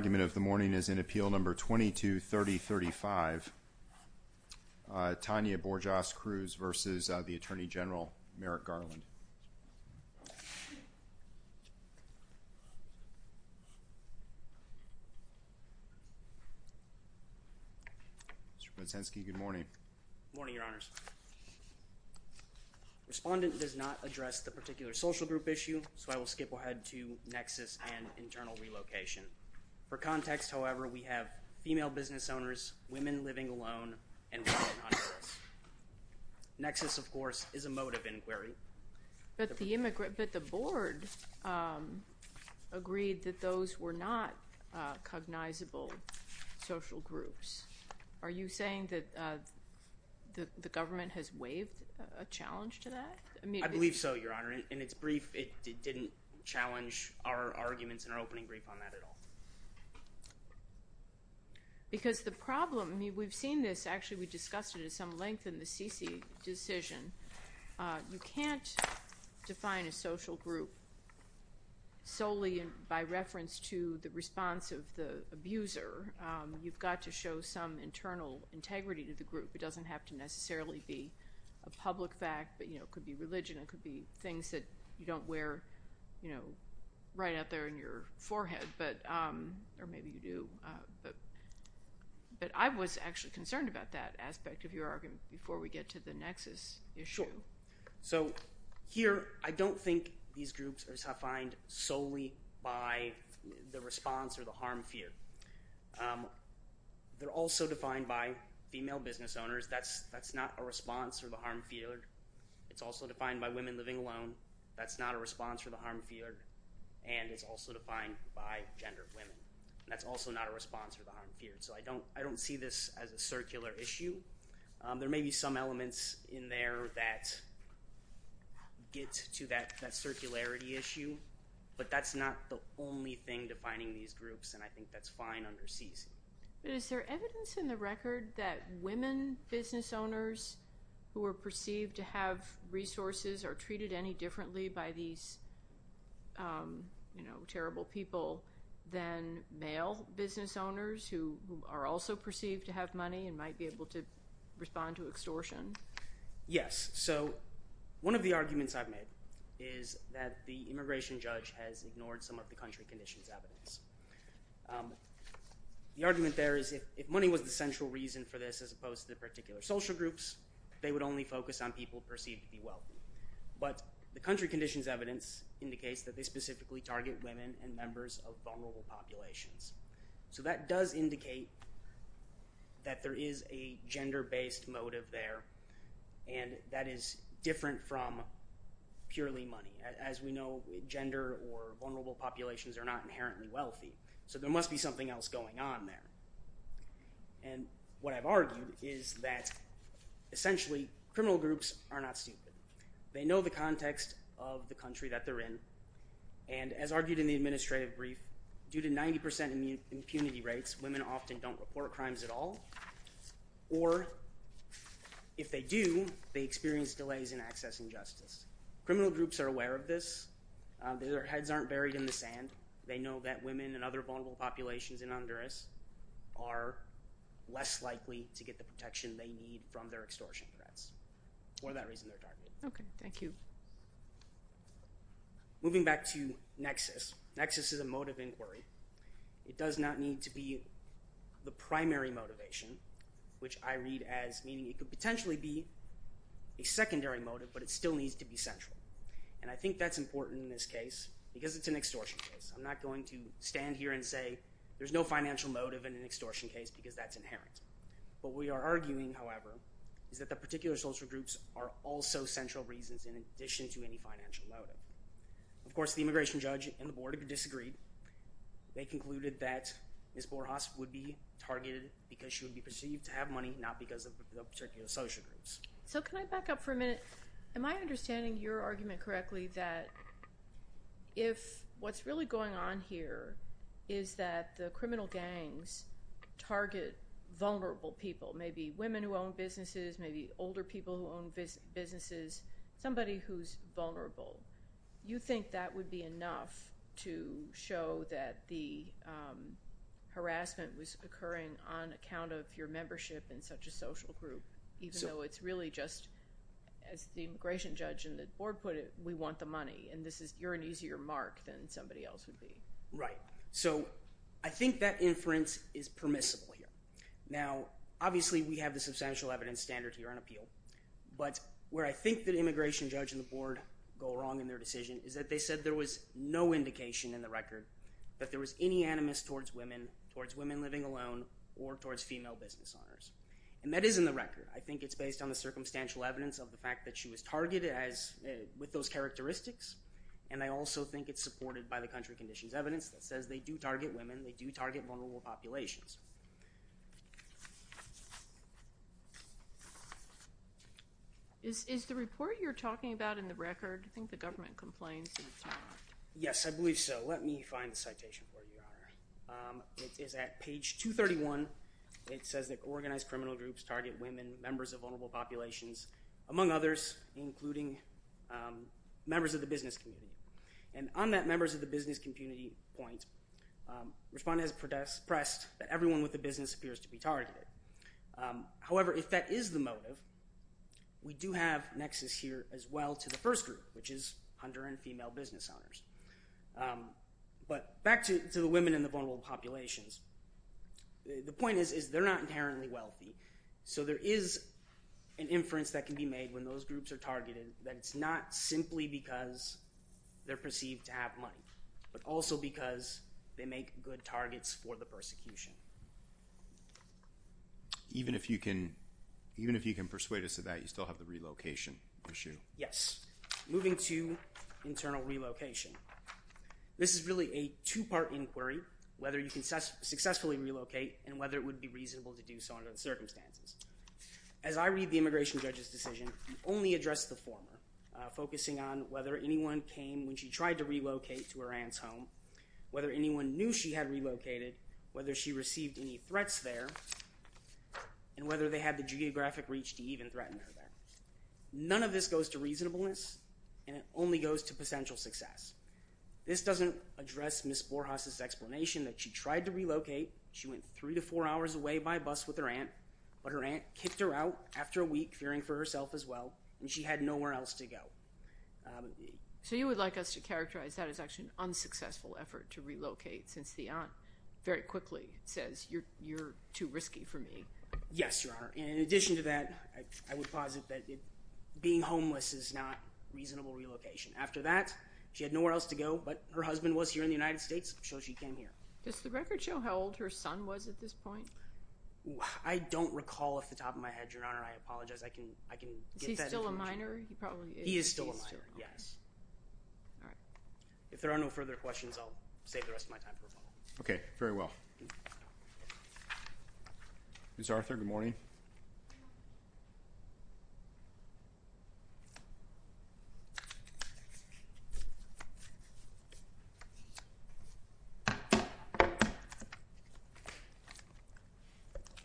is in Appeal Number 223035, Tanya Borjas Cruz v. Attorney General Merrick Garland. Mr. Potenski, good morning. Good morning, Your Honors. Respondent does not address the particular social group issue, so I will skip ahead to Nexus and internal relocation. For context, however, we have female business owners, women living alone, and women under risk. Nexus, of course, is a motive inquiry. But the board agreed that those were not cognizable social groups. Are you saying that the government has waived a challenge to that? I believe so, Your Honor. In its brief, it didn't challenge our arguments in our opening brief on that at all. Because the problem, I mean, we've seen this. Actually, we discussed it at some length in the CC decision. You can't define a social group solely by reference to the response of the abuser. It doesn't have to necessarily be a public fact, but it could be religion. It could be things that you don't wear right out there on your forehead, or maybe you do. But I was actually concerned about that aspect of your argument before we get to the Nexus issue. Sure. So here, I don't think these groups are defined solely by the response or the harm feared. They're also defined by female business owners. That's not a response or the harm feared. It's also defined by women living alone. That's not a response or the harm feared. And it's also defined by gendered women. That's also not a response or the harm feared. So I don't see this as a circular issue. There may be some elements in there that get to that circularity issue, but that's not the only thing defining these groups, and I think that's fine under CC. But is there evidence in the record that women business owners who are perceived to have resources are treated any differently by these terrible people than male business owners who are also perceived to have money and might be able to respond to extortion? Yes. So one of the arguments I've made is that the immigration judge has ignored some of the country conditions evidence. The argument there is if money was the central reason for this as opposed to the particular social groups, they would only focus on people perceived to be wealthy. But the country conditions evidence indicates that they specifically target women and members of vulnerable populations. So that does indicate that there is a gender-based motive there, and that is different from purely money. As we know, gender or vulnerable populations are not inherently wealthy, so there must be something else going on there. And what I've argued is that essentially criminal groups are not stupid. They know the context of the country that they're in, and as argued in the administrative brief, due to 90% impunity rates, women often don't report crimes at all. Or if they do, they experience delays in accessing justice. Criminal groups are aware of this. Their heads aren't buried in the sand. They know that women and other vulnerable populations in Honduras are less likely to get the protection they need from their extortion threats. For that reason, they're targeted. Okay, thank you. Moving back to nexus. Nexus is a motive inquiry. It does not need to be the primary motivation, which I read as meaning it could potentially be a secondary motive, but it still needs to be central. And I think that's important in this case because it's an extortion case. I'm not going to stand here and say there's no financial motive in an extortion case because that's inherent. What we are arguing, however, is that the particular social groups are also central reasons in addition to any financial motive. Of course, the immigration judge and the board have disagreed. They concluded that Ms. Borjas would be targeted because she would be perceived to have money, not because of the particular social groups. So can I back up for a minute? Am I understanding your argument correctly that if what's really going on here is that the criminal gangs target vulnerable people, maybe women who own businesses, maybe older people who own businesses, somebody who's vulnerable, you think that would be enough to show that the harassment was occurring on account of your membership in such a social group even though it's really just, as the immigration judge and the board put it, we want the money and you're an easier mark than somebody else would be? Right. So I think that inference is permissible here. Now, obviously, we have the substantial evidence standard here on appeal, but where I think the immigration judge and the board go wrong in their decision is that they said there was no indication in the record that there was any animus towards women, towards women living alone, or towards female business owners. And that is in the record. I think it's based on the circumstantial evidence of the fact that she was targeted with those characteristics, and I also think it's supported by the country conditions evidence that says they do target women, they do target vulnerable populations. Is the report you're talking about in the record, I think the government complains that it's not? Yes, I believe so. Let me find the citation for you, Your Honor. It's at page 231. It says that organized criminal groups target women, members of vulnerable populations, among others, including members of the business community. And on that members of the business community point, Respondent has expressed that everyone with a business appears to be targeted. However, if that is the motive, we do have nexus here as well to the first group, which is hunter and female business owners. But back to the women in the vulnerable populations, the point is they're not inherently wealthy, so there is an inference that can be made when those groups are targeted that it's not simply because they're perceived to have money, but also because they make good targets for the persecution. Even if you can persuade us of that, you still have the relocation issue. Yes. Moving to internal relocation. This is really a two-part inquiry, whether you can successfully relocate and whether it would be reasonable to do so under the circumstances. As I read the immigration judge's decision, he only addressed the former, focusing on whether anyone came when she tried to relocate to her aunt's home, whether anyone knew she had relocated, whether she received any threats there, and whether they had the geographic reach to even threaten her there. None of this goes to reasonableness, and it only goes to potential success. This doesn't address Ms. Borjas' explanation that she tried to relocate, she went three to four hours away by bus with her aunt, but her aunt kicked her out after a week, fearing for herself as well, and she had nowhere else to go. So you would like us to characterize that as actually an unsuccessful effort to relocate since the aunt very quickly says, you're too risky for me. Yes, Your Honor. In addition to that, I would posit that being homeless is not reasonable relocation. After that, she had nowhere else to go, but her husband was here in the United States, so she came here. Does the record show how old her son was at this point? I don't recall off the top of my head, Your Honor. I apologize. I can get that information. Is he still a minor? He probably is. He is still a minor, yes. If there are no further questions, I'll save the rest of my time for a follow-up. Okay, very well. Ms. Arthur, good morning.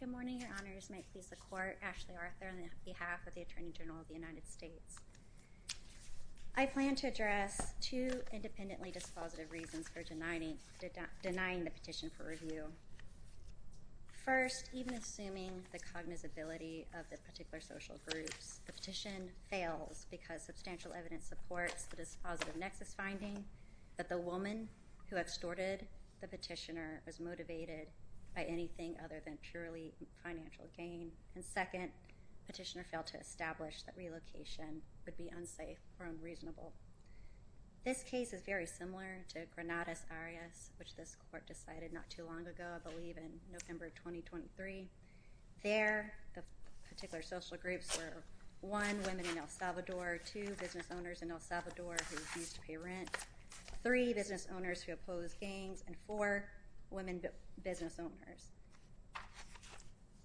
Good morning, Your Honors. May it please the Court, Ashley Arthur on behalf of the Attorney General of the United States. I plan to address two independently dispositive reasons for denying the petition for review. First, even assuming the cognizability of the particular social groups, the petition fails because substantial evidence supports the dispositive nexus finding that the woman who extorted the petitioner was motivated by anything other than purely financial gain. And second, petitioner failed to establish that relocation would be unsafe or unreasonable. This case is very similar to Granada's Arias, which this Court decided not too long ago, I believe in November of 2023. There, the particular social groups were, one, women in El Salvador, two, business owners in El Salvador who refused to pay rent, three, business owners who opposed gangs, and four, women business owners.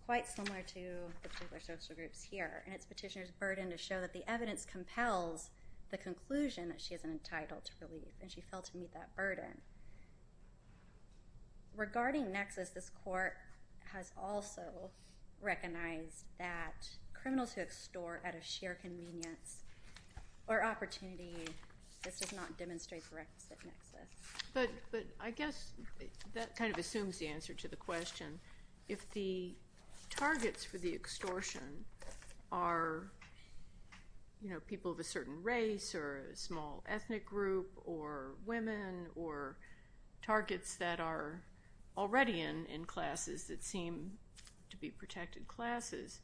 Quite similar to the particular social groups here, and it's petitioner's burden to show that the evidence compels the conclusion that she is entitled to relief, and she failed to meet that burden. Regarding nexus, this Court has also recognized that criminals who extort at a sheer convenience or opportunity, this does not demonstrate the requisite nexus. But I guess that kind of assumes the answer to the question. If the targets for the extortion are, you know, people of a certain race or a small ethnic group or women or targets that are already in classes that seem to be protected classes,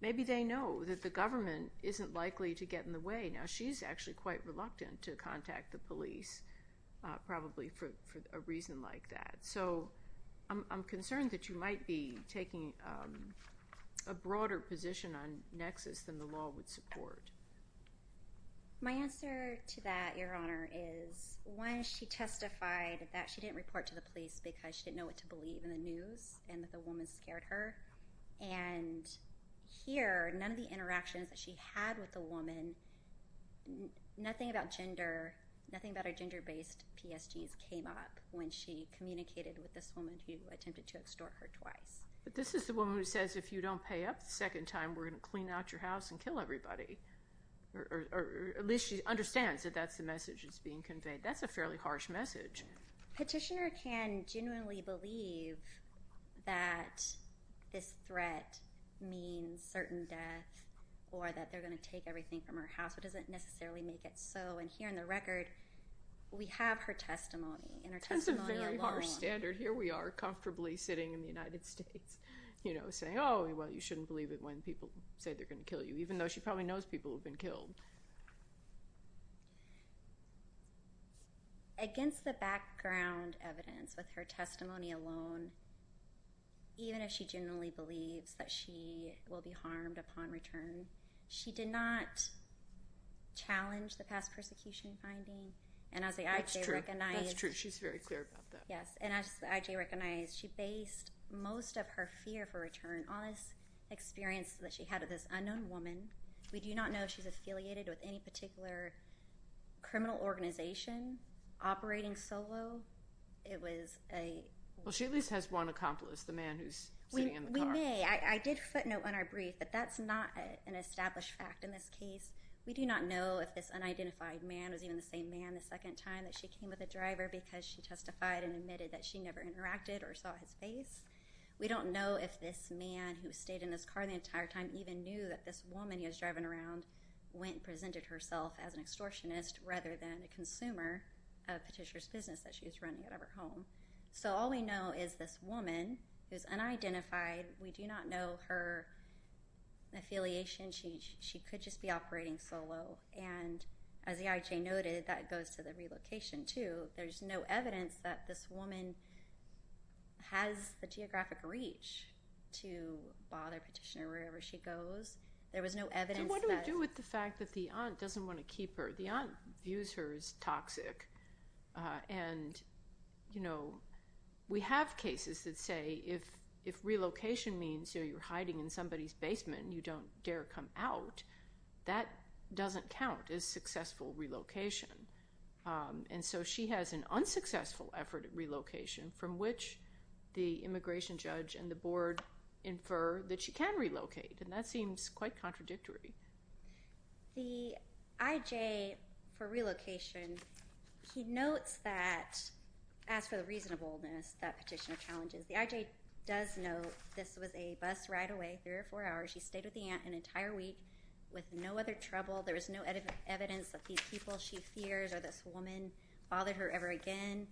maybe they know that the government isn't likely to get in the way. Now, she's actually quite reluctant to contact the police, probably for a reason like that. So I'm concerned that you might be taking a broader position on nexus than the law would support. My answer to that, Your Honor, is, one, she testified that she didn't report to the police because she didn't know what to believe in the news and that the woman scared her. And here, none of the interactions that she had with the woman, nothing about gender, nothing about her gender-based PSGs came up when she communicated with this woman who attempted to extort her twice. But this is the woman who says, if you don't pay up the second time, we're going to clean out your house and kill everybody. Or at least she understands that that's the message that's being conveyed. That's a fairly harsh message. Petitioner can genuinely believe that this threat means certain death or that they're going to take everything from her house, but doesn't necessarily make it so. And here in the record, we have her testimony, and her testimony alone. That's a very harsh standard. Here we are, comfortably sitting in the United States, you know, saying, oh, well, you shouldn't believe it when people say they're going to kill you, even though she probably knows people have been killed. Against the background evidence with her testimony alone, even if she genuinely believes that she will be harmed upon return, she did not challenge the past persecution finding. And as the IJ recognized... That's true. That's true. She's very clear about that. Yes. And as the IJ recognized, she based most of her fear for return on this experience that she had with this unknown woman. We do not know if she's affiliated with any particular criminal organization operating solo. It was a... Well, she at least has one accomplice, the man who's sitting in the car. We may. I did footnote on our brief that that's not an established fact in this case. We do not know if this unidentified man was even the same man the second time that she came with a driver because she testified and admitted that she never interacted or saw his face. We don't know if this man, who stayed in this car the entire time, even knew that this woman he was driving around went and presented herself as an extortionist rather than a consumer of Patricia's business that she was running out of her home. So all we know is this woman is unidentified. We do not know her affiliation. She could just be operating solo. And as the IJ noted, that goes to the relocation too. There's no evidence that this woman has the geographic reach to bother Patricia wherever she goes. There was no evidence that... What do we do with the fact that the aunt doesn't want to keep her? The aunt views her as toxic. And we have cases that say if relocation means you're hiding in somebody's basement, you don't dare come out, that doesn't count as successful relocation. And so she has an unsuccessful effort at relocation from which the immigration judge and the board infer that she can relocate, and that seems quite contradictory. The IJ, for relocation, he notes that, as for the reasonableness that petitioner challenges, the IJ does note this was a bus ride away, three or four hours. She stayed with the aunt an entire week with no other trouble. There was no evidence that these people she fears or this woman bothered her ever again.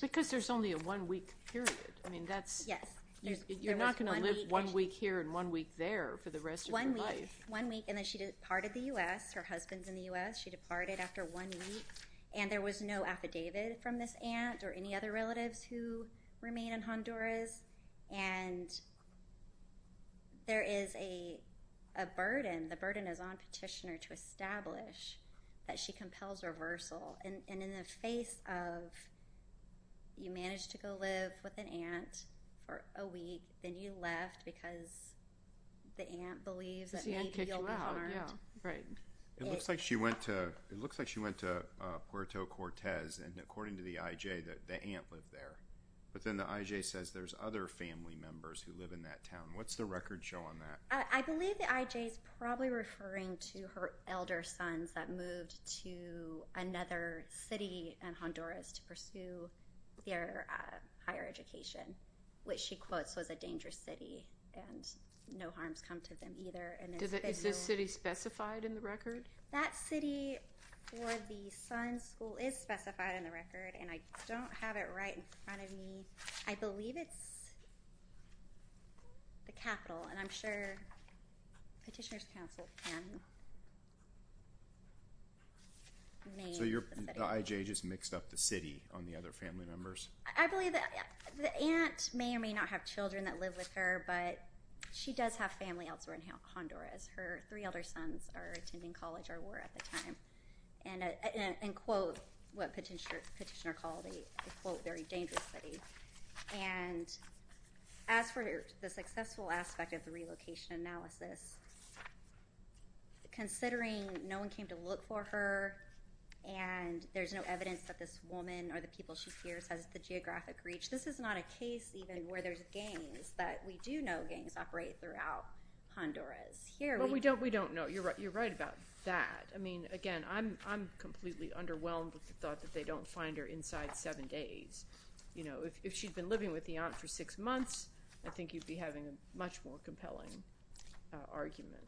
Because there's only a one-week period. Yes. You're not going to live one week here and one week there for the rest of your life. One week, and then she departed the U.S. Her husband's in the U.S. She departed after one week, and there was no affidavit from this aunt or any other relatives who remain in Honduras. And there is a burden. The burden is on petitioner to establish that she compels reversal. And in the face of you managed to go live with an aunt for a week, then you left because the aunt believes that maybe you'll be harmed. It looks like she went to Puerto Cortez, and according to the IJ, the aunt lived there. But then the IJ says there's other family members who live in that town. What's the record show on that? I believe the IJ is probably referring to her elder sons that moved to another city in Honduras to pursue their higher education, which she quotes was a dangerous city, and no harms come to them either. Is this city specified in the record? That city for the son's school is specified in the record, and I don't have it right in front of me. I believe it's the capital, and I'm sure petitioner's counsel can name the city. So the IJ just mixed up the city on the other family members? I believe the aunt may or may not have children that live with her, but she does have family elsewhere in Honduras. Her three elder sons are attending college or were at the time, and quote what petitioner called a, quote, very dangerous city. And as for the successful aspect of the relocation analysis, considering no one came to look for her and there's no evidence that this woman or the people she fears has the geographic reach, this is not a case even where there's gangs, but we do know gangs operate throughout Honduras. Well, we don't know. You're right about that. I mean, again, I'm completely underwhelmed with the thought that they don't find her inside seven days. You know, if she'd been living with the aunt for six months, I think you'd be having a much more compelling argument.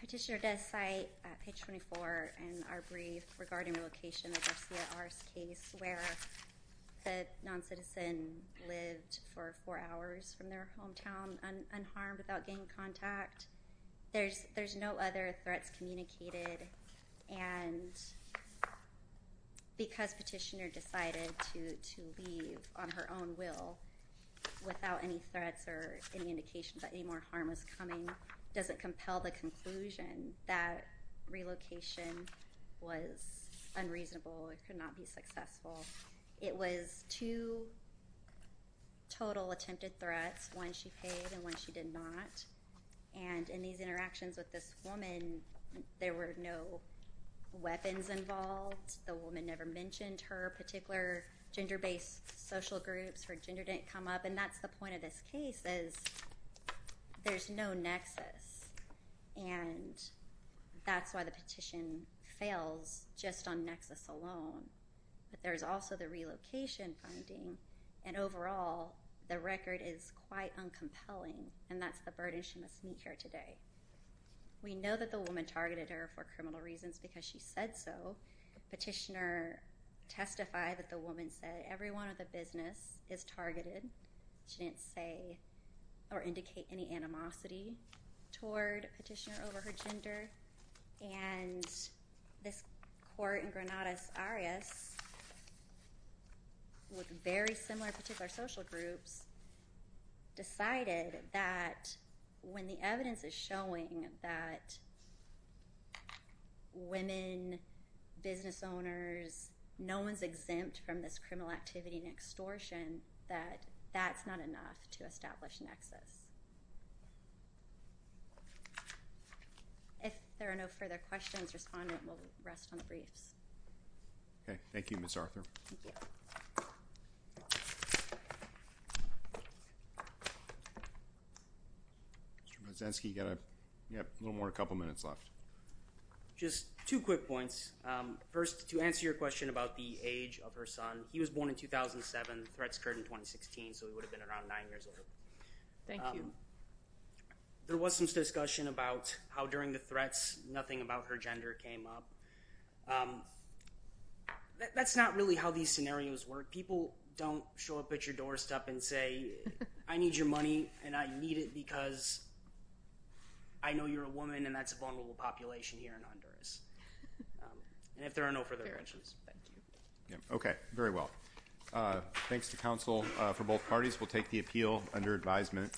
Petitioner does cite page 24 in our brief regarding relocation, where the noncitizen lived for four hours from their hometown unharmed without gang contact. There's no other threats communicated, and because petitioner decided to leave on her own will without any threats or any indication that any more harm was coming, doesn't compel the conclusion that relocation was unreasonable or could not be successful. It was two total attempted threats, one she paid and one she did not. And in these interactions with this woman, there were no weapons involved. The woman never mentioned her particular gender-based social groups. Her gender didn't come up. And that's the point of this case is there's no nexus, and that's why the petition fails just on nexus alone. But there's also the relocation finding, and overall, the record is quite uncompelling, and that's the burden she must meet here today. We know that the woman targeted her for criminal reasons because she said so. The petitioner testified that the woman said every one of the business is targeted. She didn't say or indicate any animosity toward a petitioner over her gender. And this court in Granada's Arias, with very similar particular social groups, decided that when the evidence is showing that women, business owners, no one's exempt from this criminal activity and extortion, that that's not enough to establish a nexus. If there are no further questions, Respondent will rest on the briefs. Okay, thank you, Ms. Arthur. Mr. Mazensky, you have a little more than a couple minutes left. Just two quick points. First, to answer your question about the age of her son, he was born in 2007. The threats occurred in 2016, so he would have been around nine years old. Thank you. There was some discussion about how during the threats nothing about her gender came up. That's not really how these scenarios work. People don't show up at your doorstep and say, I need your money and I need it because I know you're a woman and that's a vulnerable population here in Honduras. And if there are no further questions. Okay, very well. Thanks to counsel for both parties. We'll take the appeal under advisement.